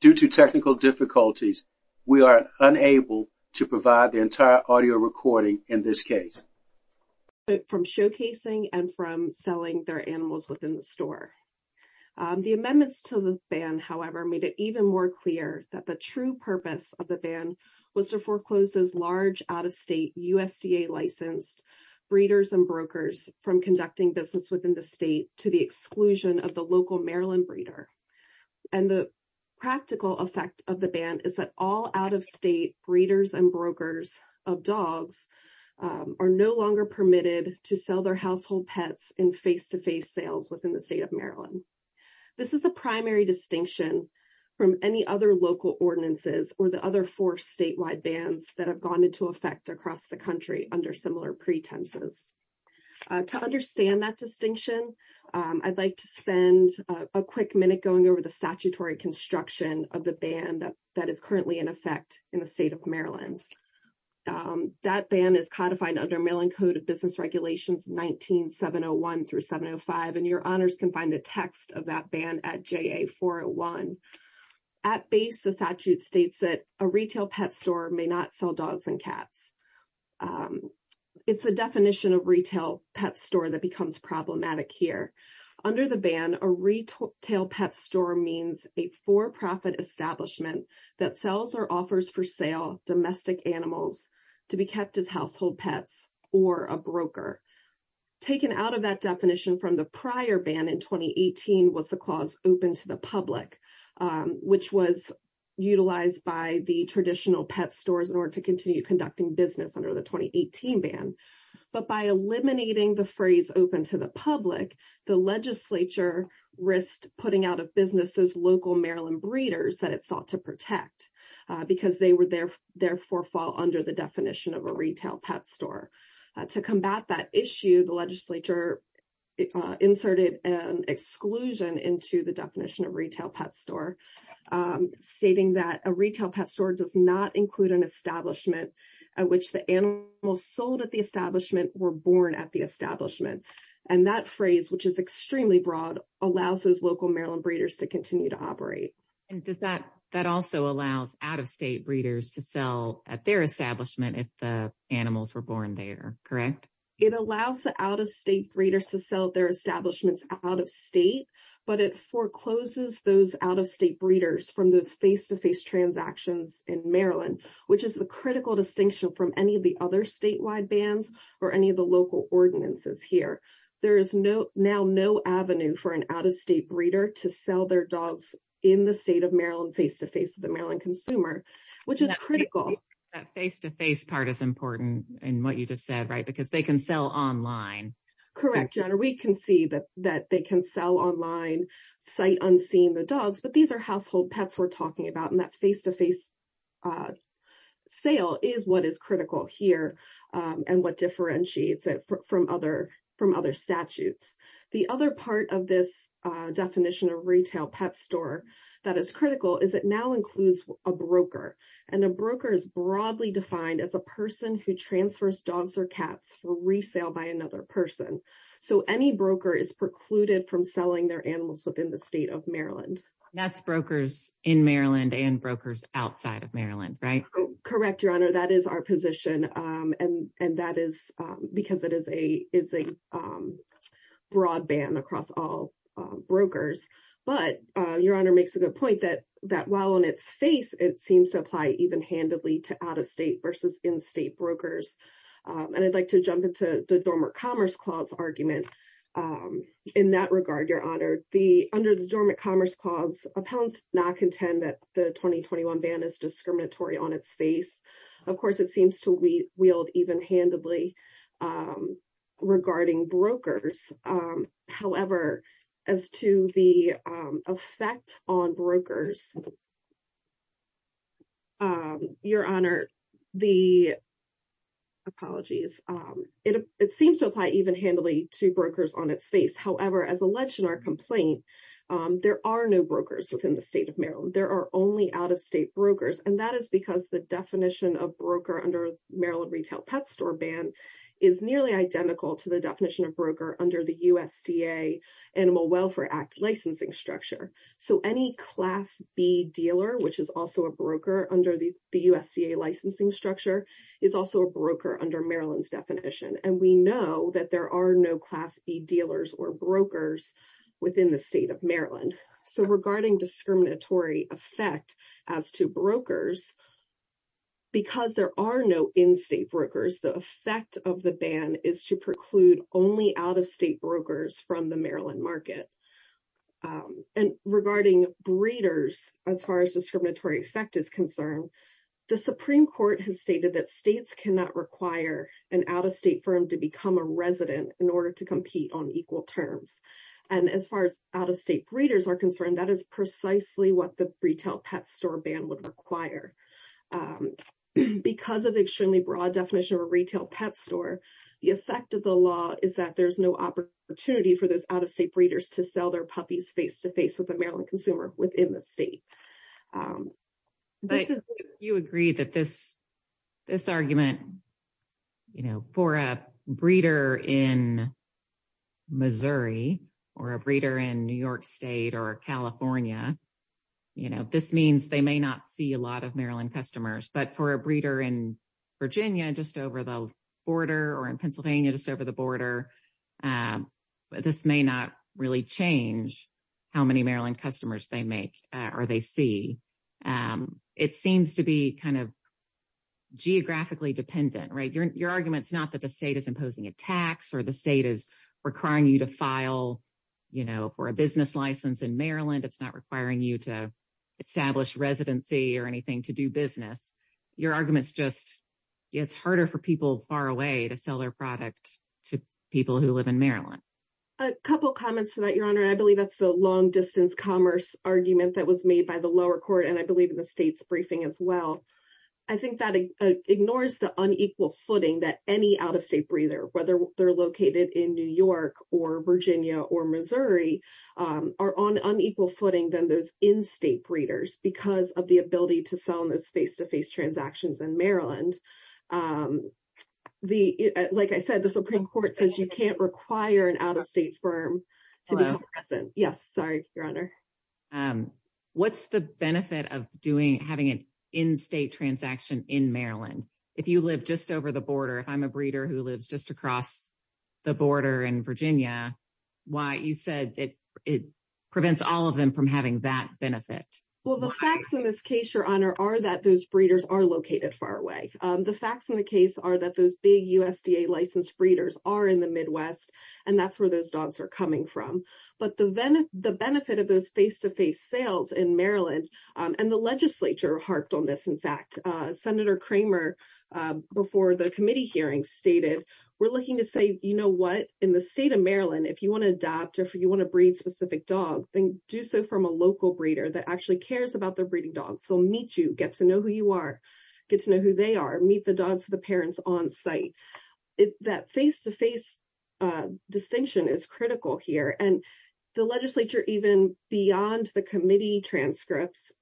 Due to technical difficulties, we are unable to provide the entire audio recording in this case from showcasing and from selling their animals within the store. The amendments to the ban, however, made it even more clear that the true purpose of the ban was to foreclose those large out-of-state USDA-licensed breeders and brokers from conducting business within the state to the exclusion of the local Maryland breeder. And the practical effect of the ban is that all out-of-state breeders and brokers of dogs are no longer permitted to sell their household pets in face-to-face sales within the state of Maryland. This is the primary distinction from any other local ordinances or the other four statewide bans that have gone into effect across the country under similar pretenses. To understand that distinction, I'd like to spend a quick minute going over the statutory construction of the ban that is currently in effect in the state of Maryland. That ban is codified under Mailing Code of Business Regulations 19-701-705, and your honors can find the text of that ban at JA-401. At base, the statute states that a retail pet pet store becomes problematic here. Under the ban, a retail pet store means a for-profit establishment that sells or offers for sale domestic animals to be kept as household pets or a broker. Taken out of that definition from the prior ban in 2018 was the clause open to the public, which was utilized by the traditional pet stores in order to continue conducting business under the 2018 ban. But by eliminating the phrase open to the public, the legislature risked putting out of business those local Maryland breeders that it sought to protect because they would therefore fall under the definition of a retail pet store. To combat that issue, the legislature inserted an exclusion into the definition of retail pet store, stating that a retail pet store does not include an establishment at which the animals sold at the establishment were born at the establishment. And that phrase, which is extremely broad, allows those local Maryland breeders to continue to operate. And that also allows out-of-state breeders to sell at their establishment if the animals were born there, correct? It allows the out-of-state breeders to sell their establishments out-of-state, but it forecloses those out-of-state breeders from those face-to-face transactions in Maryland, which is the critical distinction from any of the other statewide bans or any of the local ordinances here. There is now no avenue for an out-of-state breeder to sell their dogs in the state of Maryland face-to-face to the Maryland consumer, which is critical. That face-to-face part is important in what you just said, right? Because they can sell online. Correct, John. We can see that they can sell online, sight unseen the dogs, but these are household pets we're talking about. And that face-to-face sale is what is critical here and what differentiates it from other statutes. The other part of this definition of retail pet store that is critical is it now includes a broker. And a broker is broadly defined as a person who transfers dogs or cats for resale by another person. So any broker is precluded from selling their animals within the state of Maryland. That's brokers in Maryland and brokers outside of Maryland, right? Correct, Your Honor. That is our position. And that is because it is a broadband across all brokers. But Your Honor makes a good point that while on its face, it seems to apply even-handedly to out-of-state versus in-state brokers. And I'd like to jump into the Dormant Commerce Clause argument in that regard, Your Honor. Under the Dormant Commerce Clause, appellants not contend that the 2021 ban is discriminatory on its face. Of course, it seems to wield even-handedly regarding brokers. However, as to the effect on brokers, Your Honor, the apologies, it seems to apply even-handedly to brokers on its face. However, as alleged in our complaint, there are no brokers within the state of Maryland. There are only out-of-state brokers. And that is because the definition of broker under Maryland Retail Pet Store Ban is nearly identical to the definition of broker under the USDA Animal Welfare Act licensing structure. So, any Class B dealer, which is also a broker under the USDA licensing structure, is also a broker under Maryland's definition. And we know that there are no Class B dealers or brokers within the state of Maryland. So, regarding discriminatory effect as to brokers, because there are no in-state brokers, the effect of the ban is to preclude only out-of-state brokers from the Maryland market. And regarding breeders, as far as discriminatory effect is concerned, the Supreme Court has stated that states cannot require an out-of-state firm to become a resident in order to compete on equal terms. And as far as out-of-state breeders are concerned, that is precisely what the Retail Pet Store Ban would require. Because of the extremely opportunity for those out-of-state breeders to sell their puppies face-to-face with a Maryland consumer within the state. But you agree that this argument, you know, for a breeder in Missouri, or a breeder in New York State, or California, you know, this means they may not see a lot of Maryland customers. But for a breeder in Virginia, just over the border, or in Pennsylvania, just over the border, this may not really change how many Maryland customers they make or they see. It seems to be kind of geographically dependent, right? Your argument's not that the state is imposing a tax, or the state is requiring you to file, you know, for a business license in Maryland. It's not requiring you to establish residency or anything to do business. Your argument's just, it's harder for people far away to sell their product to people who live in Maryland. A couple comments to that, Your Honor. I believe that's the long-distance commerce argument that was made by the lower court, and I believe in the state's briefing as well. I think that ignores the unequal footing that any out-of-state breeder, whether they're located in New York, or Virginia, or Missouri, are on unequal footing than those in-state breeders, because of the ability to sell in those face-to-face transactions in Maryland. Like I said, the Supreme Court says you can't require an out-of-state firm. Yes, sorry, Your Honor. What's the benefit of having an in-state transaction in Maryland? If you live just over the border, if I'm a breeder who lives just across the border in Virginia, why, you said it prevents all of them from having that benefit. Well, the facts in this case, Your Honor, are that those breeders are located far away. The facts in the case are that those big USDA licensed breeders are in the Midwest, and that's where those dogs are coming from. But the benefit of those face-to-face sales in Maryland, and the legislature harped on this, in fact. Senator Kramer, before the committee hearing, stated, we're looking to say, you know what, in the state of Maryland, if you want to adopt, or if you want to breed a specific dog, then do so from a local breeder that actually cares about their breeding dogs. They'll meet you, get to know who you are, get to know who they are, meet the dogs of the parents on site. That face-to-face distinction is critical here, and the legislature, even beyond the committee transcripts,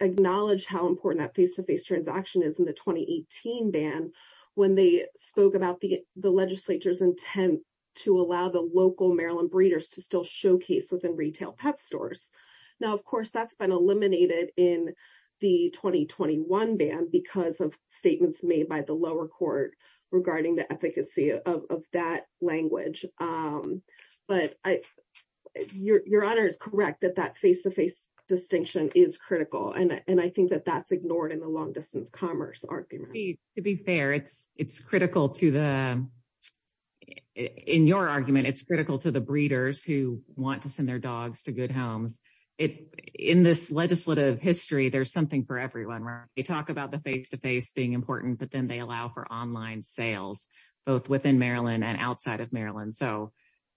acknowledged how important that face-to-face transaction is in the 2018 ban, when they spoke about the legislature's intent to allow the local Maryland breeders to still showcase within retail pet stores. Now, of course, that's been eliminated in the 2021 ban because of statements made by the lower court regarding the efficacy of that language. But Your Honor is correct that that face-to-face distinction is critical, and I think that that's ignored in the long-distance commerce argument. To be fair, it's critical to the, in your argument, it's critical to the breeders who want to send their dogs to good homes. In this legislative history, there's something for everyone, where they talk about the face-to-face being important, but then they allow for online sales, both within Maryland and outside of Maryland. So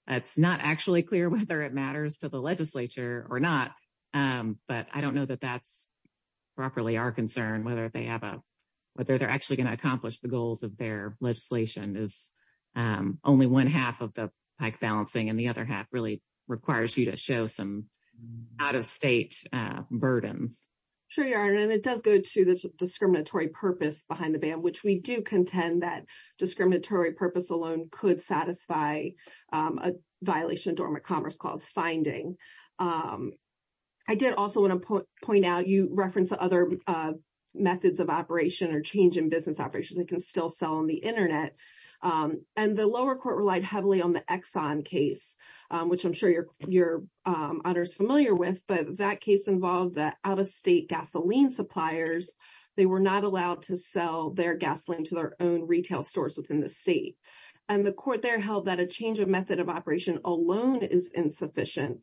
it's not actually clear whether it or not, but I don't know that that's properly our concern, whether they're actually going to accomplish the goals of their legislation. Only one half of the balancing, and the other half really requires you to show some out-of-state burdens. Sure, Your Honor, and it does go to the discriminatory purpose behind the ban, which we do contend that discriminatory purpose alone could satisfy a violation of Dormant Commerce Clause finding. I did also want to point out, you referenced other methods of operation or change in business operations that can still sell on the internet. And the lower court relied heavily on the Exxon case, which I'm sure Your Honor is familiar with, but that case involved the out-of-state gasoline suppliers. They were not allowed to sell their gasoline to their own retail stores within the state. And the court there held that a change of method of operation alone is insufficient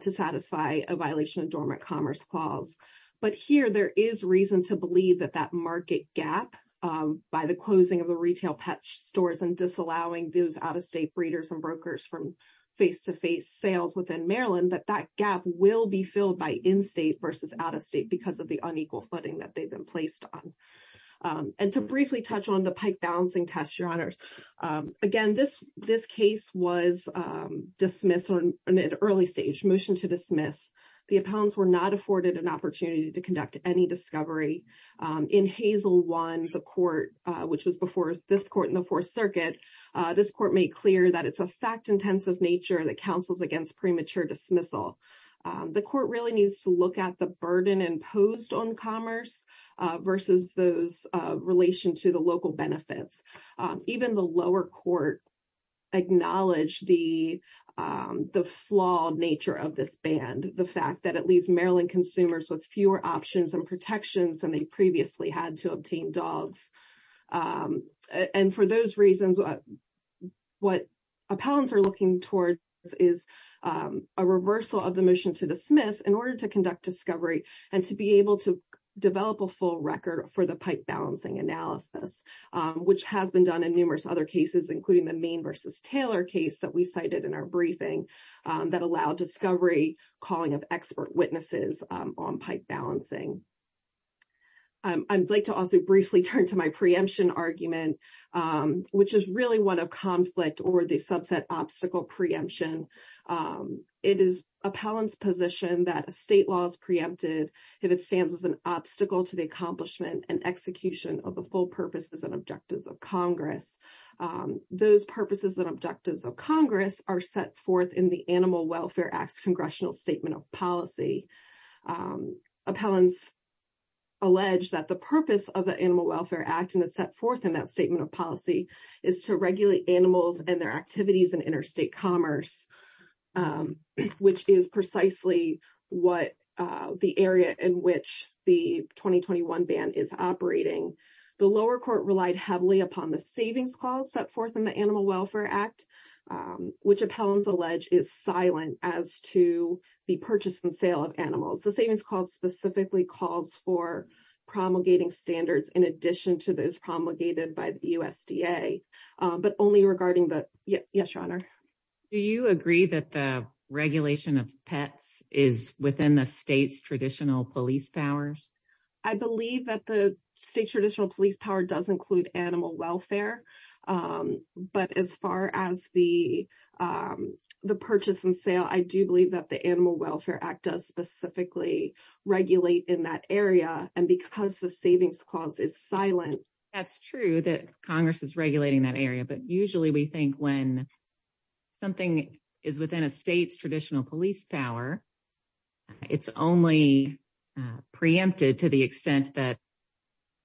to satisfy a violation of Dormant Commerce Clause. But here, there is reason to believe that that market gap by the closing of the retail pet stores and disallowing those out-of-state breeders and brokers from face-to-face sales within Maryland, that that gap will be filled by in-state versus out-of-state because of the And to briefly touch on the Pike Balancing Test, Your Honors. Again, this case was dismissed on an early stage, motion to dismiss. The appellants were not afforded an opportunity to conduct any discovery. In Hazel 1, the court, which was before this court in the Fourth Circuit, this court made clear that it's a fact-intensive nature that counsels against premature dismissal. The court really needs to look at the burden imposed on commerce versus those relation to the local benefits. Even the lower court acknowledged the flawed nature of this band, the fact that at least Maryland consumers with fewer options and protections than they previously had to obtain dogs. And for those reasons, what appellants are looking towards is a reversal of the motion to dismiss in order to conduct discovery and to be able to develop a full record for the Pike Balancing analysis, which has been done in numerous other cases, including the Maine versus Taylor case that we cited in our briefing that allowed discovery calling of expert witnesses on Pike Balancing. I'd like to also briefly turn to my preemption argument, which is really one of conflict or subset obstacle preemption. It is appellant's position that a state law is preempted if it stands as an obstacle to the accomplishment and execution of the full purposes and objectives of Congress. Those purposes and objectives of Congress are set forth in the Animal Welfare Act's congressional statement of policy. Appellants allege that the purpose of the Animal Welfare Act and is set forth in that statement of policy is to regulate animals and their activities in interstate commerce, which is precisely what the area in which the 2021 ban is operating. The lower court relied heavily upon the savings clause set forth in the Animal Welfare Act, which appellants allege is silent as to the purchase and sale of animals. The savings clause specifically calls for promulgating standards in addition to those Yes, your honor. Do you agree that the regulation of pets is within the state's traditional police powers? I believe that the state's traditional police power does include animal welfare, but as far as the purchase and sale, I do believe that the Animal Welfare Act does specifically regulate in that area and because the savings clause is silent. That's true that Congress is regulating that area, but usually we think when something is within a state's traditional police power, it's only preempted to the extent that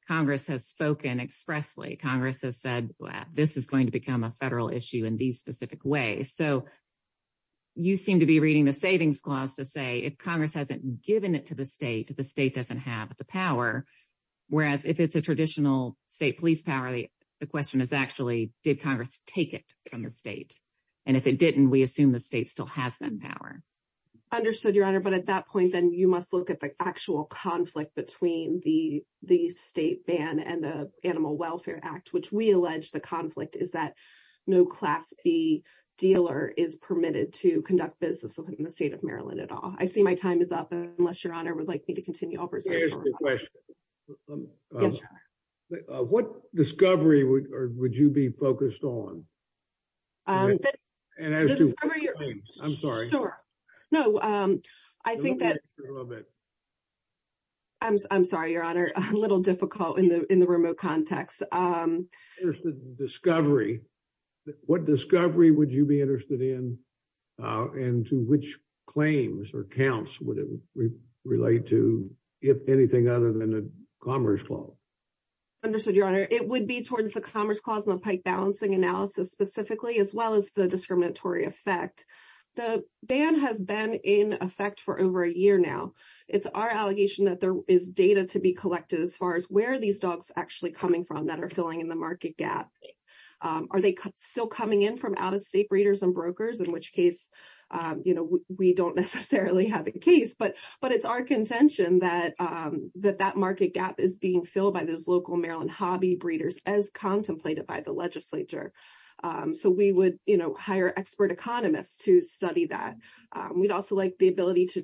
Congress has spoken expressly. Congress has said this is going to become a federal issue in these specific ways. So you seem to be reading the savings clause to say if Congress hasn't given it to the state, the state doesn't have the power. Whereas if it's a traditional state police power, the question is actually did Congress take it from the state and if it didn't, we assume the state still has that power. Understood your honor, but at that point, then you must look at the actual conflict between the state ban and the Animal Welfare Act, which we allege the conflict is that no class B dealer is permitted to conduct business in the state of Maryland at all. I see time is up, unless your honor would like me to continue. What discovery would you be focused on? I'm sorry, your honor, a little difficult in the remote context. There's the discovery. What discovery would you be interested in and to which claims or counts would it relate to if anything other than the Commerce Clause? Understood your honor, it would be towards the Commerce Clause and the pike balancing analysis specifically as well as the discriminatory effect. The ban has been in effect for over a year now. It's our allegation that there is data to be collected as far as where these dogs actually coming from that are filling in the market gap. Are they still coming in from out-of-state breeders and brokers, in which case, you know, we don't necessarily have a case, but it's our contention that that market gap is being filled by those local Maryland hobby breeders as contemplated by the legislature. So we would, you know, hire expert economists to study that. We'd also like the ability to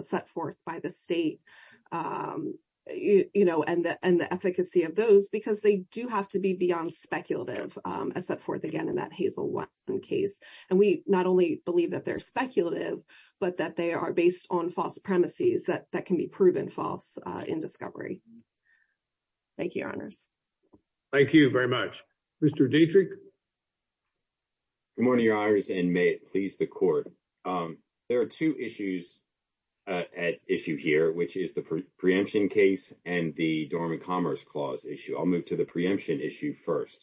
set forth by the state, you know, and the efficacy of those, because they do have to be beyond speculative as set forth again in that Hazel 1 case. And we not only believe that they're speculative, but that they are based on false premises that can be proven false in discovery. Thank you, your honors. Thank you very much. Mr. Dietrich. Good morning, your honors, and may it please the court. There are two issues at issue here, which is the preemption case and the dormant commerce clause issue. I'll move to the preemption issue first.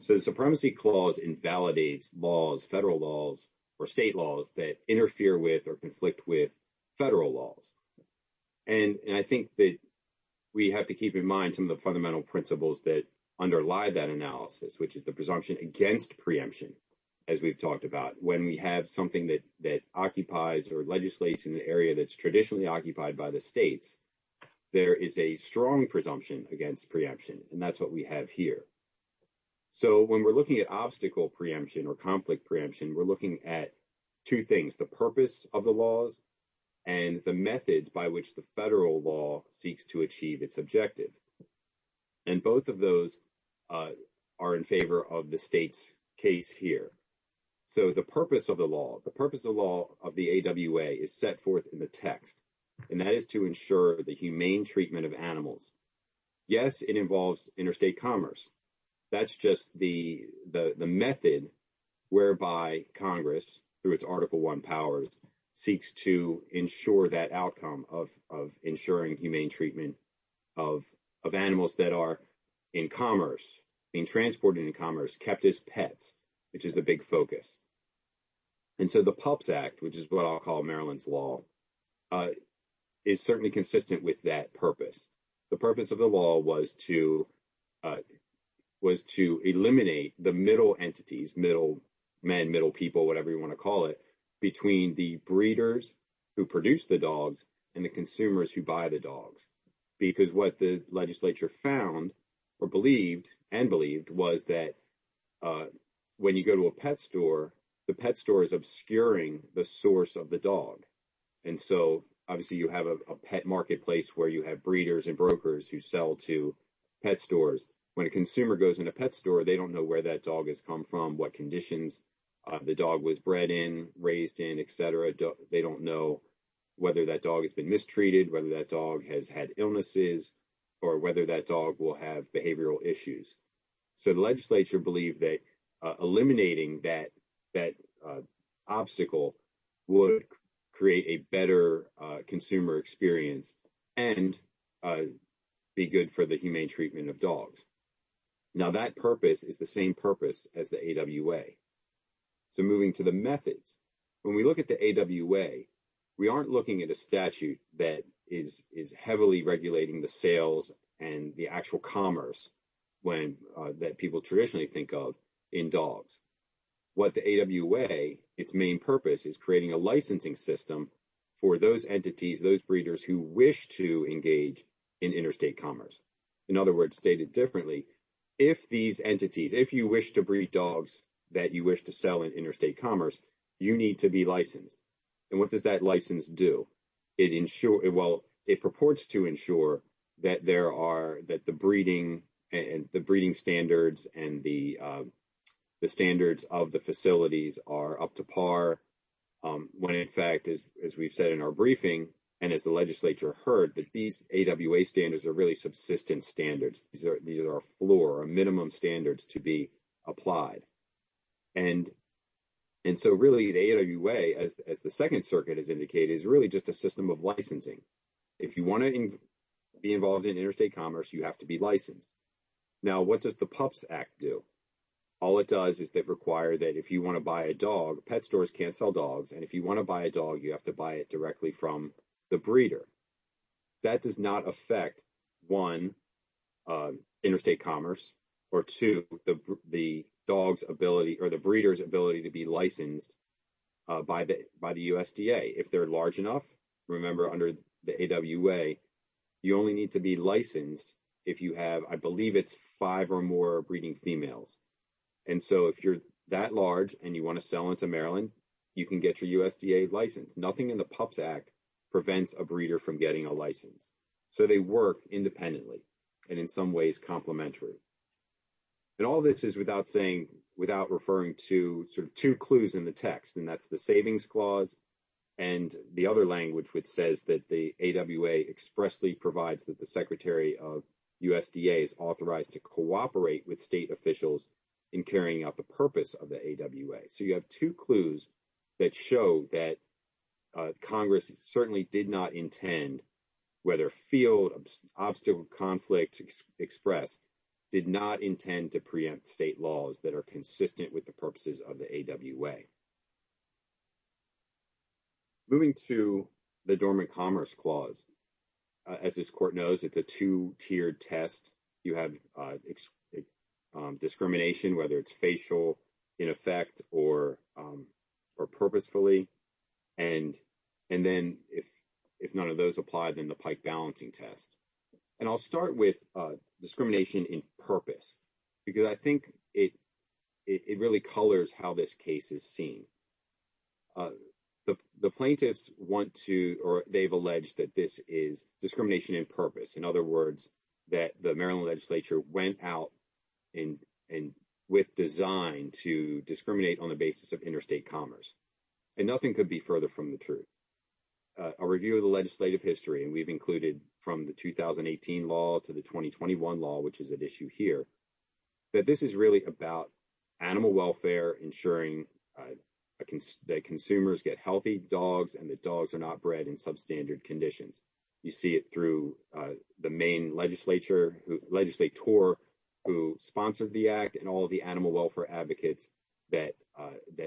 So the supremacy clause invalidates laws, federal laws, or state laws that interfere with or conflict with federal laws. And I think that we have to keep in mind some of the fundamental principles that underlie that analysis, which is the presumption against preemption, as we've talked about. When we have something that occupies or legislates in the area that's traditionally occupied by the states, there is a strong presumption against preemption, and that's what we have here. So when we're looking at obstacle preemption or conflict preemption, we're looking at two things, the purpose of the laws and the methods by which the federal law seeks to achieve its objective. And both of those are in favor of the state's case here. So the purpose of the law, the purpose of the law of the AWA is set forth in the text, and that is to ensure the humane treatment of animals. Yes, it involves interstate commerce. That's just the method whereby Congress, through its Article I powers, seeks to ensure that outcome of ensuring humane treatment of animals that are in commerce, being transported in commerce, kept as pets, which is a big focus. And so the Pups Act, which is what I'll call Maryland's law, is certainly consistent with that purpose. The purpose of the law was to eliminate the middle entities, middle men, middle people, whatever you want to call it, between the breeders who produce the dogs and the consumers who buy the dogs. Because what the legislature found or believed and believed was that when you go to a pet store, the pet store is obscuring the source of the dog. And so obviously you have a pet marketplace where you have breeders and brokers who sell to pet stores. When a consumer goes in a pet store, they don't know where that dog has come from, what conditions the dog was bred in, raised in, etc. They don't know whether that dog has been mistreated, whether that dog has had illnesses, or whether that dog will have behavioral issues. So the legislature believed that eliminating that obstacle would create a better consumer experience and be good for the humane treatment of dogs. Now that purpose is the same purpose as the AWA. So moving to the methods, when we look at the AWA, we aren't looking at a statute that is heavily regulating the sales and the actual commerce that people traditionally think of in dogs. What the AWA, its main purpose, is creating a licensing system for those entities, those breeders who wish to engage in interstate commerce. In other words, if these entities, if you wish to breed dogs that you wish to sell in interstate commerce, you need to be licensed. And what does that license do? Well, it purports to ensure that the breeding standards and the standards of the facilities are up to par, when in fact, as we've said in our briefing and as the legislature heard, that these AWA standards are really subsistence standards. These are a floor, a minimum standards to be applied. And so really the AWA, as the Second Circuit has indicated, is really just a system of licensing. If you want to be involved in interstate commerce, you have to be licensed. Now, what does the PUPS Act do? All it does is they require that if you want to buy a dog, pet stores can't sell dogs. And if you want to buy a dog, you have to buy it directly from the breeder. That does not affect one, interstate commerce, or two, the breeders ability to be licensed by the USDA. If they're large enough, remember under the AWA, you only need to be licensed if you have, I believe it's five or more breeding females. And so if you're that large and you want to sell into Maryland, you can get your USDA license. Nothing in the PUPS Act prevents a breeder from getting a license. So they work independently and in some ways complimentary. And all of this is without saying, without referring to sort of two clues in the text, and that's the savings clause and the other language, which says that the AWA expressly provides that the secretary of USDA is authorized to cooperate with state officials in carrying out the purpose of the AWA. So you have two clues that show that Congress certainly did not intend, whether field obstacle conflict express, did not intend to preempt state laws that are consistent with the purposes of the AWA. Moving to the dormant commerce clause, as this court knows, it's a two-tiered test. You have discrimination, whether it's facial in effect or purposefully. And then if none of those apply, then the pike balancing test. And I'll start with discrimination in purpose, because I think it really colors how this case is seen. The plaintiffs want to, or they've alleged that this is discrimination in purpose. In other words, that the Maryland legislature went out and with design to discriminate on the basis of interstate commerce. And nothing could be further from the truth. A review of the legislative history, and we've included from the 2018 law to the 2021 law, which is at issue here, that this is really about animal welfare, ensuring that consumers get healthy dogs, and that dogs are not bred in substandard conditions. You see it through the main legislator who sponsored the act and all of the animal welfare advocates that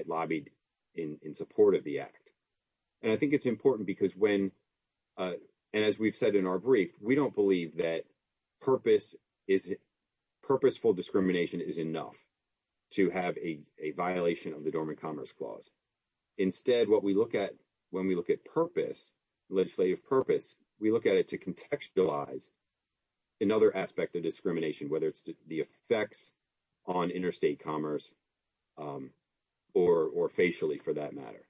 lobbied in support of the act. And I think it's important because when, and as we've said in our brief, we don't believe that purposeful discrimination is enough to have a violation of the Dormant Commerce Clause. Instead, what we look at when we look at purpose, legislative purpose, we look at it to contextualize another aspect of discrimination, whether it's the effects on interstate commerce or facially for that matter.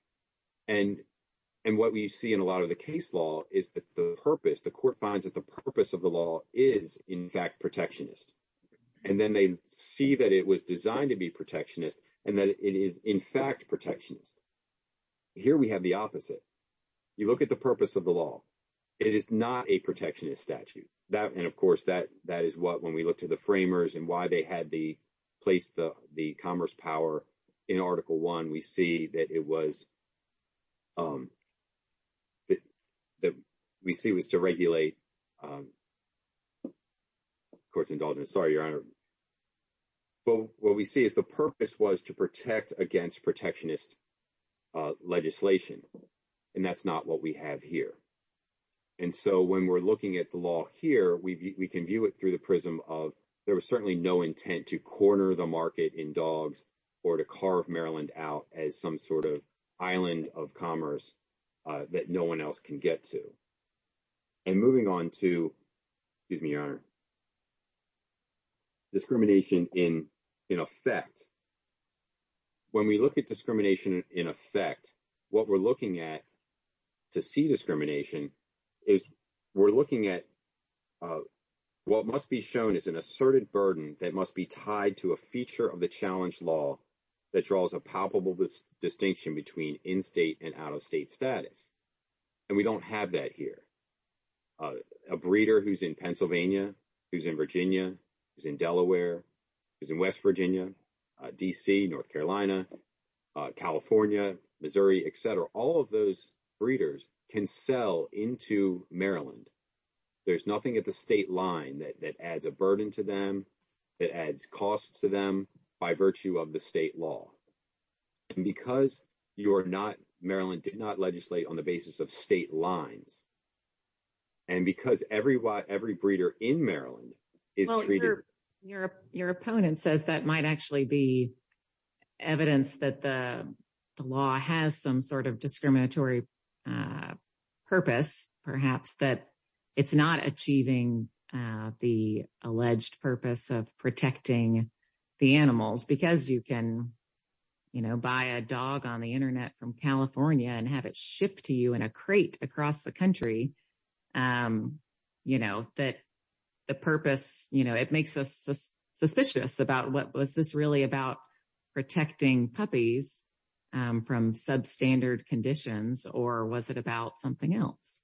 And what we see in a lot of the case law is that the purpose, the court finds that the purpose of the law is, in fact, protectionist. And then they see that it was designed to be protectionist and that it is, in fact, protectionist. Here we have the opposite. You look at the purpose of the law. It is not a protectionist statute. And of course, that is what when we look to the framers and why they had the place, the commerce power in Article 1, we see that it was, that we see was to regulate, of course, indulgence. Sorry, Your Honor. But what we see is the purpose was to protect against protectionist legislation. And that's not what we have here. And so when we're looking at the law here, we can view it through the prism of there was certainly no intent to corner the market in dogs or to carve Maryland out as some sort of island of commerce that no one else can get to. And moving on to, excuse me, Your Honor, discrimination in effect. When we look at discrimination in effect, what we're looking at to see discrimination is we're looking at what must be shown as an distinction between in-state and out-of-state status. And we don't have that here. A breeder who's in Pennsylvania, who's in Virginia, who's in Delaware, who's in West Virginia, D.C., North Carolina, California, Missouri, et cetera, all of those breeders can sell into Maryland. There's nothing at the state line that adds a burden to them, that adds costs to them by virtue of the state law. And because you're not, Maryland did not legislate on the basis of state lines, and because every breeder in Maryland is treated. Your opponent says that might actually be evidence that the law has some sort of discriminatory purpose, perhaps that it's not because you can, you know, buy a dog on the internet from California and have it shipped to you in a crate across the country. You know, that the purpose, you know, it makes us suspicious about what was this really about protecting puppies from substandard conditions, or was it about something else?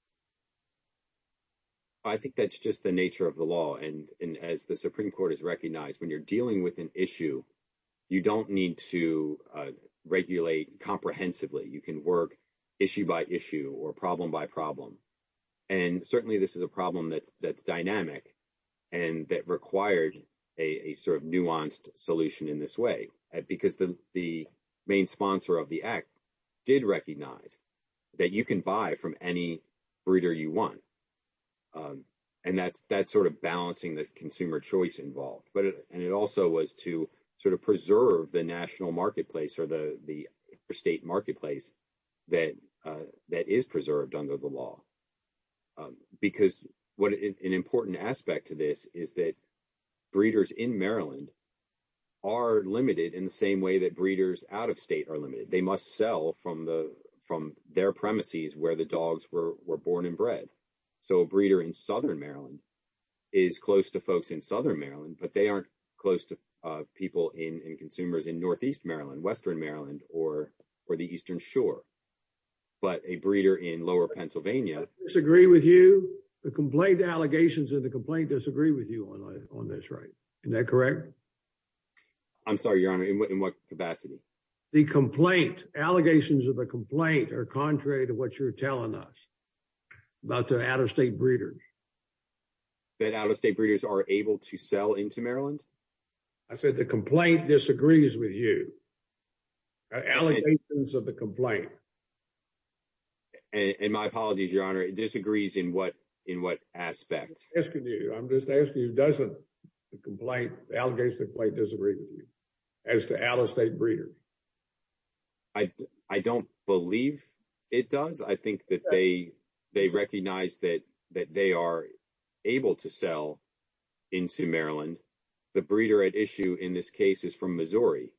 I think that's just the nature of the law. And as the Supreme Court has recognized, when you're dealing with an issue, you don't need to regulate comprehensively. You can work issue by issue or problem by problem. And certainly this is a problem that's dynamic and that required a sort of nuanced solution in this way, because the main sponsor of the act did recognize that you can buy from any breeder you want. And that's sort of involved. And it also was to sort of preserve the national marketplace or the state marketplace that is preserved under the law. Because an important aspect to this is that breeders in Maryland are limited in the same way that breeders out of state are limited. They must sell from their premises where the dogs were born and bred. So a breeder in Southern Maryland is close to Southern Maryland, but they aren't close to people in consumers in Northeast Maryland, Western Maryland, or the Eastern Shore. But a breeder in lower Pennsylvania disagree with you. The complaint allegations of the complaint disagree with you on this, right? Is that correct? I'm sorry, Your Honor, in what capacity? The complaint allegations of the complaint are contrary to what you're telling us about the out of state breeders. That out of state breeders are able to sell into Maryland? I said the complaint disagrees with you. Allegations of the complaint. And my apologies, Your Honor, it disagrees in what in what aspect? I'm asking you, I'm just asking you doesn't the complaint, the allegations of the complaint disagree with you as to out of state breeders? I don't believe it does. I think that they recognize that they are able to sell into Maryland. The breeder at issue in this case is from Missouri.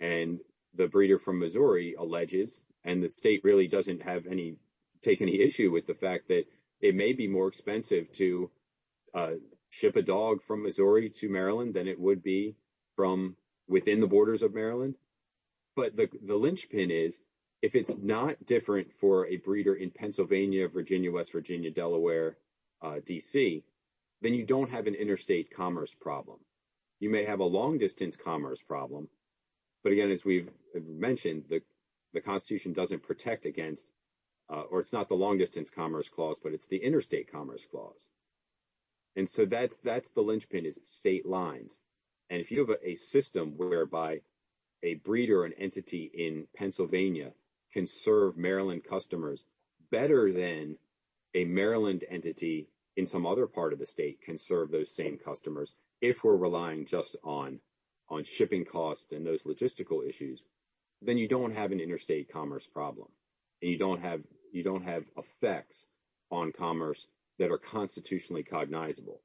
And the breeder from Missouri alleges, and the state really doesn't have any take any issue with the fact that it may be more expensive to ship a dog from Missouri to Maryland than it would be from within the borders of but the linchpin is if it's not different for a breeder in Pennsylvania, Virginia, West Virginia, Delaware, DC, then you don't have an interstate commerce problem. You may have a long distance commerce problem. But again, as we've mentioned, the Constitution doesn't protect against or it's not the long distance commerce clause, but it's the interstate commerce clause. And so that's that's the linchpin is state lines. And if you have a system whereby a breeder, an entity in Pennsylvania can serve Maryland customers better than a Maryland entity in some other part of the state can serve those same customers, if we're relying just on on shipping costs and those logistical issues, then you don't have an interstate commerce problem. And you don't have you don't have effects on commerce that are constitutionally cognizable.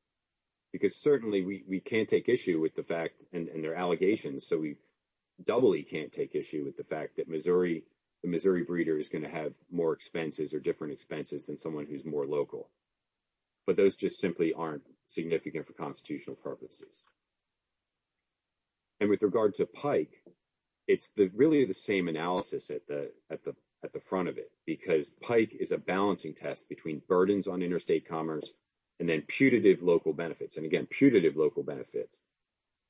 Because certainly we can't take issue with the fact and their allegations. So we doubly can't take issue with the fact that Missouri, the Missouri breeder is going to have more expenses or different expenses than someone who's more local. But those just simply aren't significant for constitutional purposes. And with regard to Pike, it's the really the same analysis at the at the at the front of it, because Pike is a balancing test between burdens on interstate commerce, and then putative local benefits, and again, putative local benefits.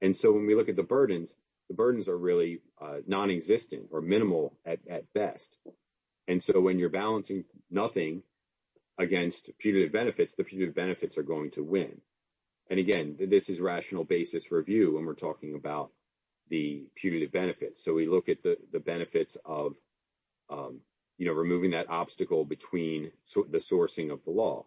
And so when we look at the burdens, the burdens are really non existent or minimal at best. And so when you're balancing nothing against punitive benefits, the punitive benefits are going to win. And again, this is rational basis review when we're talking about the punitive benefits. So we look at the the benefits of, you know, removing that obstacle between the sourcing of the law.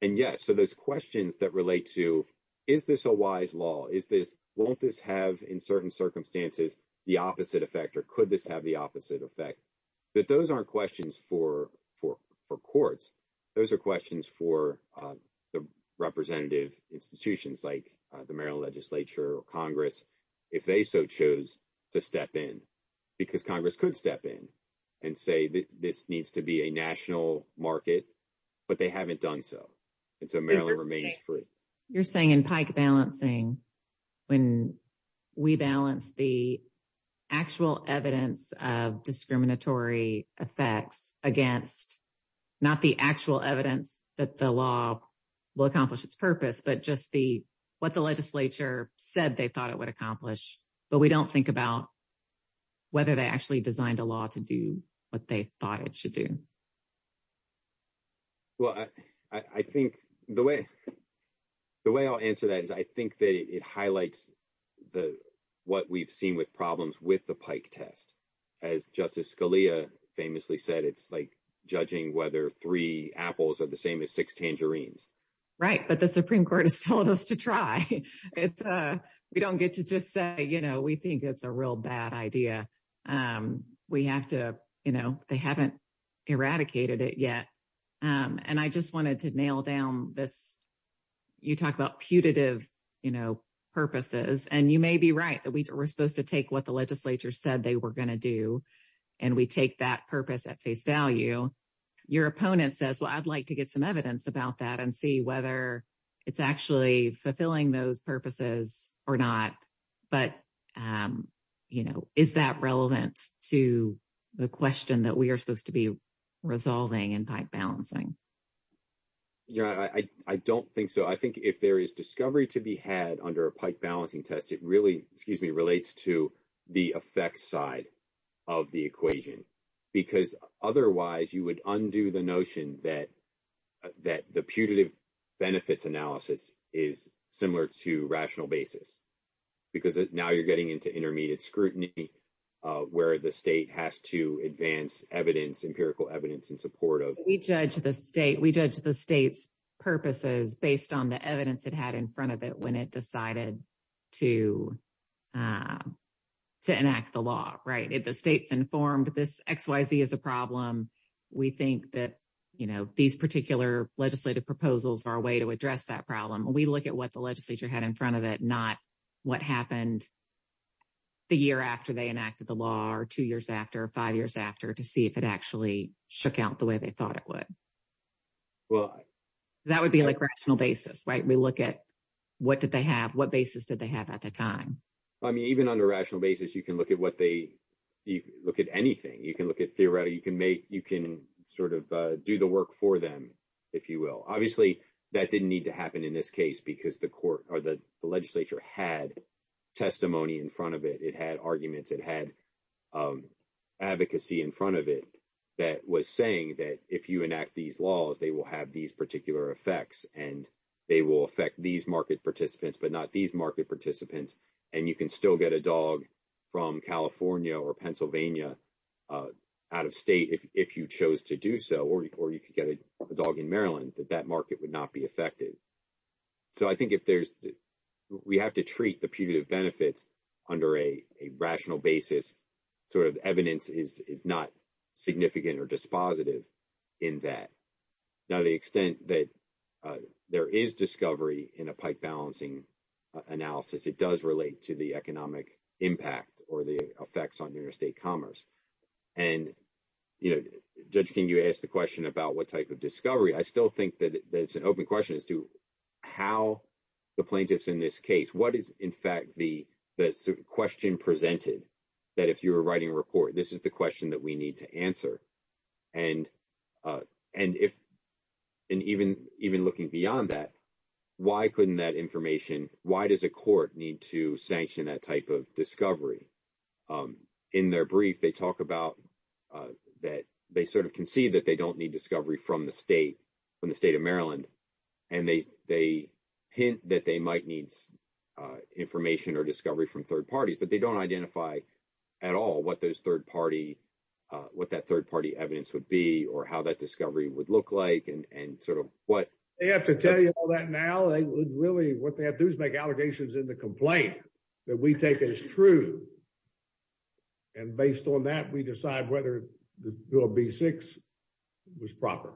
And yes, so those questions that relate to, is this a wise law? Is this won't this have in certain circumstances, the opposite effect? Or could this have the opposite effect? But those aren't questions for for for courts. Those are questions for the representative institutions like the Maryland Legislature or Congress, if they so chose to step in, because Congress could step in and say that this needs to be a national market, but they haven't done so. And so Maryland remains free. You're saying in Pike balancing, when we balance the actual evidence of discriminatory effects against not the actual evidence that the law will accomplish its purpose, but just the what the legislature said they thought it would accomplish, but we don't think about whether they actually designed a law to do what they thought it should do. Well, I think the way the way I'll answer that is I think that it highlights the what we've seen with problems with the Pike test. As Justice Scalia famously said, it's like judging whether three apples are the same as six tangerines. Right, but the Supreme Court has told us to try. It's a we don't get to just say, you know, we think it's a real bad idea. We have to, you know, they haven't eradicated it yet. And I just wanted to nail down this. You talk about putative, you know, purposes, and you may be right that we were supposed to take what the legislature said they were going to do. And we take that purpose at face value. Your opponent says, Well, I'd like to get some evidence about that and see whether it's actually fulfilling those purposes or not. But, you know, is that relevant to the question that we are supposed to be resolving and balancing? Yeah, I don't think so. I think if there is discovery to be had under a Pike balancing test, it really, excuse me, relates to the effects side of the equation. Because otherwise, you would undo the notion that that the putative benefits analysis is similar to rational basis. Because now you're getting into intermediate scrutiny, where the state has to advance evidence, empirical evidence in support of we judge the state, we judge the state's purposes based on the evidence it had in front of it when it decided to enact the law, right? If the state's informed this XYZ is a problem, we think that, you know, these particular legislative proposals are a way to address that problem. We look at what the legislature had in front of it, not what happened the year after they enacted the law or two years after five years after to see if it actually shook out the way they thought it would. Well, that would be like rational basis, right? We look at what did they have? What basis did they have at the time? I mean, even on a rational basis, you can look at what they look at anything you can look at theoretically, you can make you can sort of do the work for them, if you will, obviously, that didn't need to happen in this case, because the court or the legislature had testimony in front of it, it had arguments, it had advocacy in front of it, that was saying that if you enact these laws, they will have these particular effects, and they will affect these market participants, but not these market participants. And you can still get a dog from California or Pennsylvania, out of state, if you chose to do so, or you could get a dog in Maryland that that market would not be affected. So I think if there's, we have to treat the punitive benefits under a rational basis, sort of evidence is not significant or dispositive in that. Now, the extent that there is discovery in a pipe balancing analysis, it does relate to the economic impact or the effects on interstate commerce. And, you know, Judge King, you asked the question about what type of discovery, I still think that it's an open question as to how the plaintiffs in this case, what is, in fact, the question presented, that if you were writing a report, this is the question that we need to answer. And, and if, and even looking beyond that, why couldn't that information, why does a court need to sanction that type of discovery? In their brief, they talk about that, they sort of concede that they don't need discovery from the state, from the state of Maryland. And they, they hint that they might need information or discovery from third parties, but they don't identify at all what those third party, what that third party evidence would be, or how that discovery would look like, and sort of what. They have to tell you all that now, they would really, what they have to do is make allegations in the complaint that we take as true. And based on that, we decide whether Bill B-6 was proper.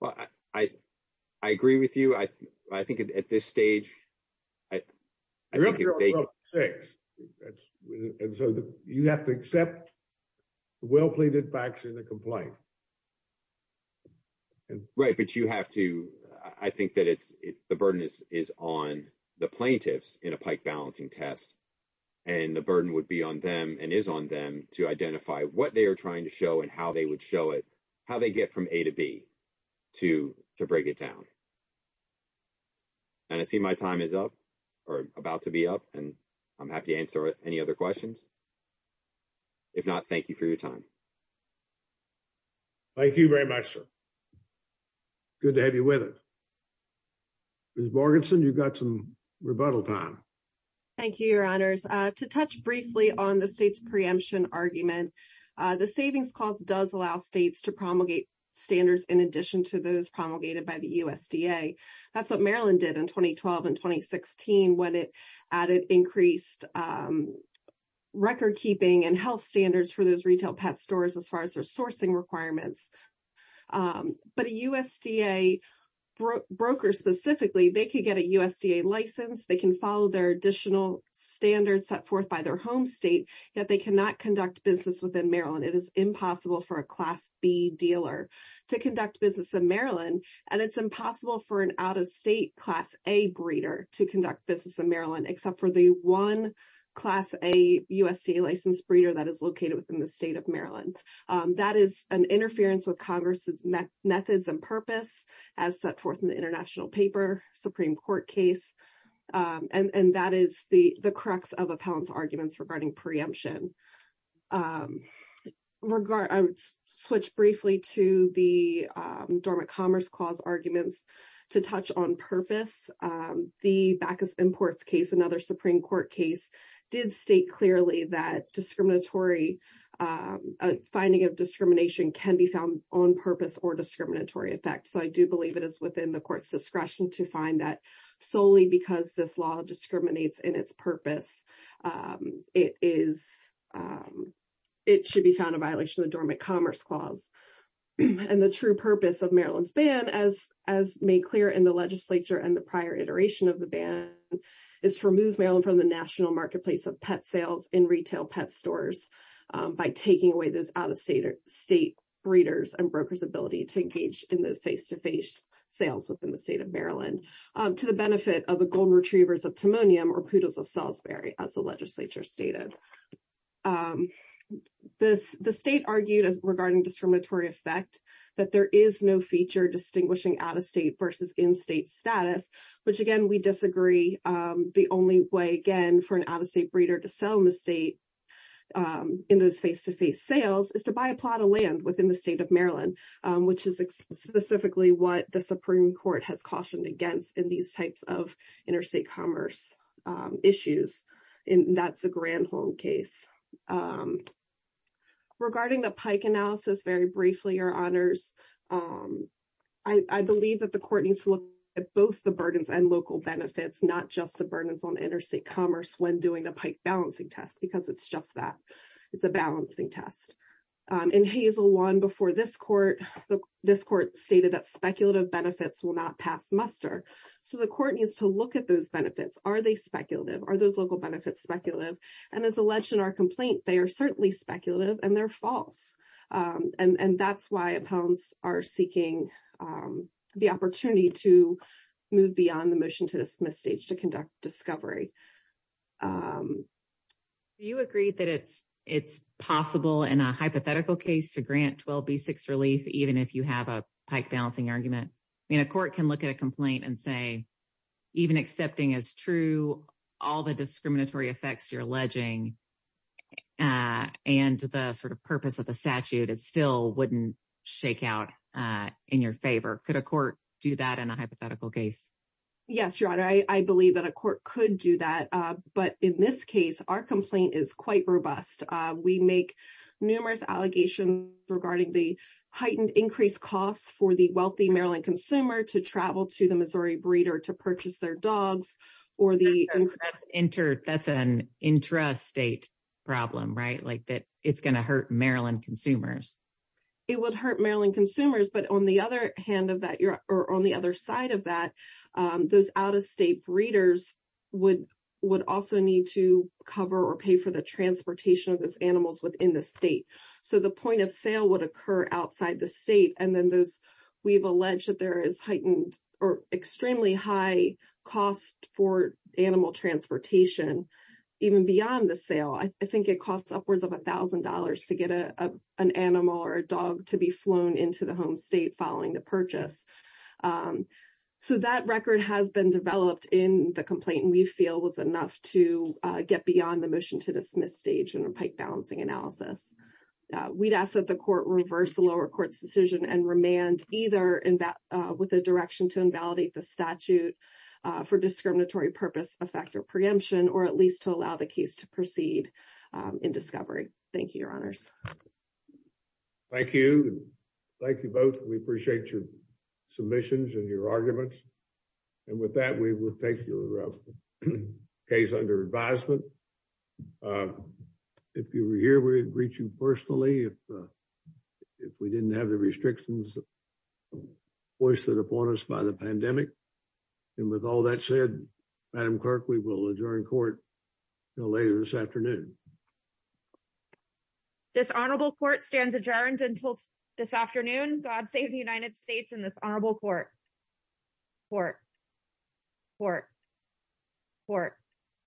Well, I, I, I agree with you. I, I think at this stage, I think if they- Bill B-6, that's, and so the, you have to accept the well-pleaded facts in the complaint. Right, but you have to, I think that it's, the burden is, is on the plaintiffs in a what they are trying to show and how they would show it, how they get from A to B to, to break it down. And I see my time is up, or about to be up, and I'm happy to answer any other questions. If not, thank you for your time. Thank you very much, sir. Good to have you with us. Ms. Borgeson, you've got some rebuttal time. Thank you, your honors. To touch briefly on the state's preemption argument, the Savings Clause does allow states to promulgate standards in addition to those promulgated by the USDA. That's what Maryland did in 2012 and 2016, when it added increased record keeping and health standards for those retail pet stores, as far as their sourcing requirements. But a USDA broker, specifically, they could get a USDA license, they can follow their additional standards set forth by their home state, yet they cannot conduct business within Maryland. It is impossible for a Class B dealer to conduct business in Maryland. And it's impossible for an out-of-state Class A breeder to conduct business in Maryland, except for the one Class A USDA licensed breeder that is located within the state of Maryland. That is an interference with Congress's methods and purpose, as set forth in international paper, Supreme Court case. And that is the crux of Appellant's arguments regarding preemption. Switch briefly to the Dormant Commerce Clause arguments. To touch on purpose, the Backus Imports case, another Supreme Court case, did state clearly that finding of discrimination can be found on purpose or discriminatory effect. So I do believe it is within the court's discretion to find that solely because this law discriminates in its purpose, it should be found a violation of the Dormant Commerce Clause. And the true purpose of Maryland's ban, as made clear in the legislature and the prior iteration of the ban, is to remove Maryland from the national marketplace of pet sales in retail pet stores by taking away those out-of-state breeders and brokers ability to engage in the face-to-face sales within the state of Maryland to the benefit of the golden retrievers of Timonium or poodles of Salisbury, as the legislature stated. The state argued regarding discriminatory effect that there is no feature distinguishing out-of-state versus in-state status, which again, we disagree. The only way, again, for an out-of-state breeder to sell in the state in those face-to-face sales is to buy a plot of land within the state of Maryland, which is specifically what the Supreme Court has cautioned against in these types of interstate commerce issues, and that's a Granholm case. Regarding the Pike analysis, very briefly, Your Honors, I believe that the court needs to look at both the burdens and local benefits, not just the burdens on interstate commerce when doing the it's a balancing test. In Hazel 1 before this court, this court stated that speculative benefits will not pass muster, so the court needs to look at those benefits. Are they speculative? Are those local benefits speculative? And as alleged in our complaint, they are certainly speculative, and they're false, and that's why opponents are seeking the opportunity to move beyond the it's possible in a hypothetical case to grant 12B6 relief, even if you have a Pike balancing argument. I mean, a court can look at a complaint and say, even accepting as true all the discriminatory effects you're alleging and the sort of purpose of the statute, it still wouldn't shake out in your favor. Could a court do that in a hypothetical case? Yes, Your Honor, I believe that a court could do that, but in this case, our complaint is quite robust. We make numerous allegations regarding the heightened increased costs for the wealthy Maryland consumer to travel to the Missouri breeder to purchase their dogs or the interstate problem, right? Like that it's going to hurt Maryland consumers. It would hurt Maryland consumers, but on the other hand of that, or on the other side of that, those out-of-state breeders would also need to cover or pay for the transportation of those animals within the state. So the point of sale would occur outside the state, and then those we've alleged that there is heightened or extremely high cost for animal transportation even beyond the sale. I think it costs upwards of $1,000 to get an animal or a dog to be flown into the home state following the purchase. So that record has been developed in the complaint, and we feel was enough to get beyond the motion to dismiss stage in a pike balancing analysis. We'd ask that the court reverse the lower court's decision and remand either with a direction to invalidate the statute for discriminatory purpose, effective preemption, or at least to allow the case to proceed in discovery. Thank you, Your Honors. Thank you. Thank you both. We appreciate your submissions and your arguments. And with that, we will take your case under advisement. If you were here, we'd reach you personally if we didn't have the restrictions foisted upon us by the pandemic. And with all that said, Madam Clerk, we will adjourn court until later this afternoon. This honorable court stands adjourned until this afternoon. God save the United States and this honorable court. Court. Court. Court.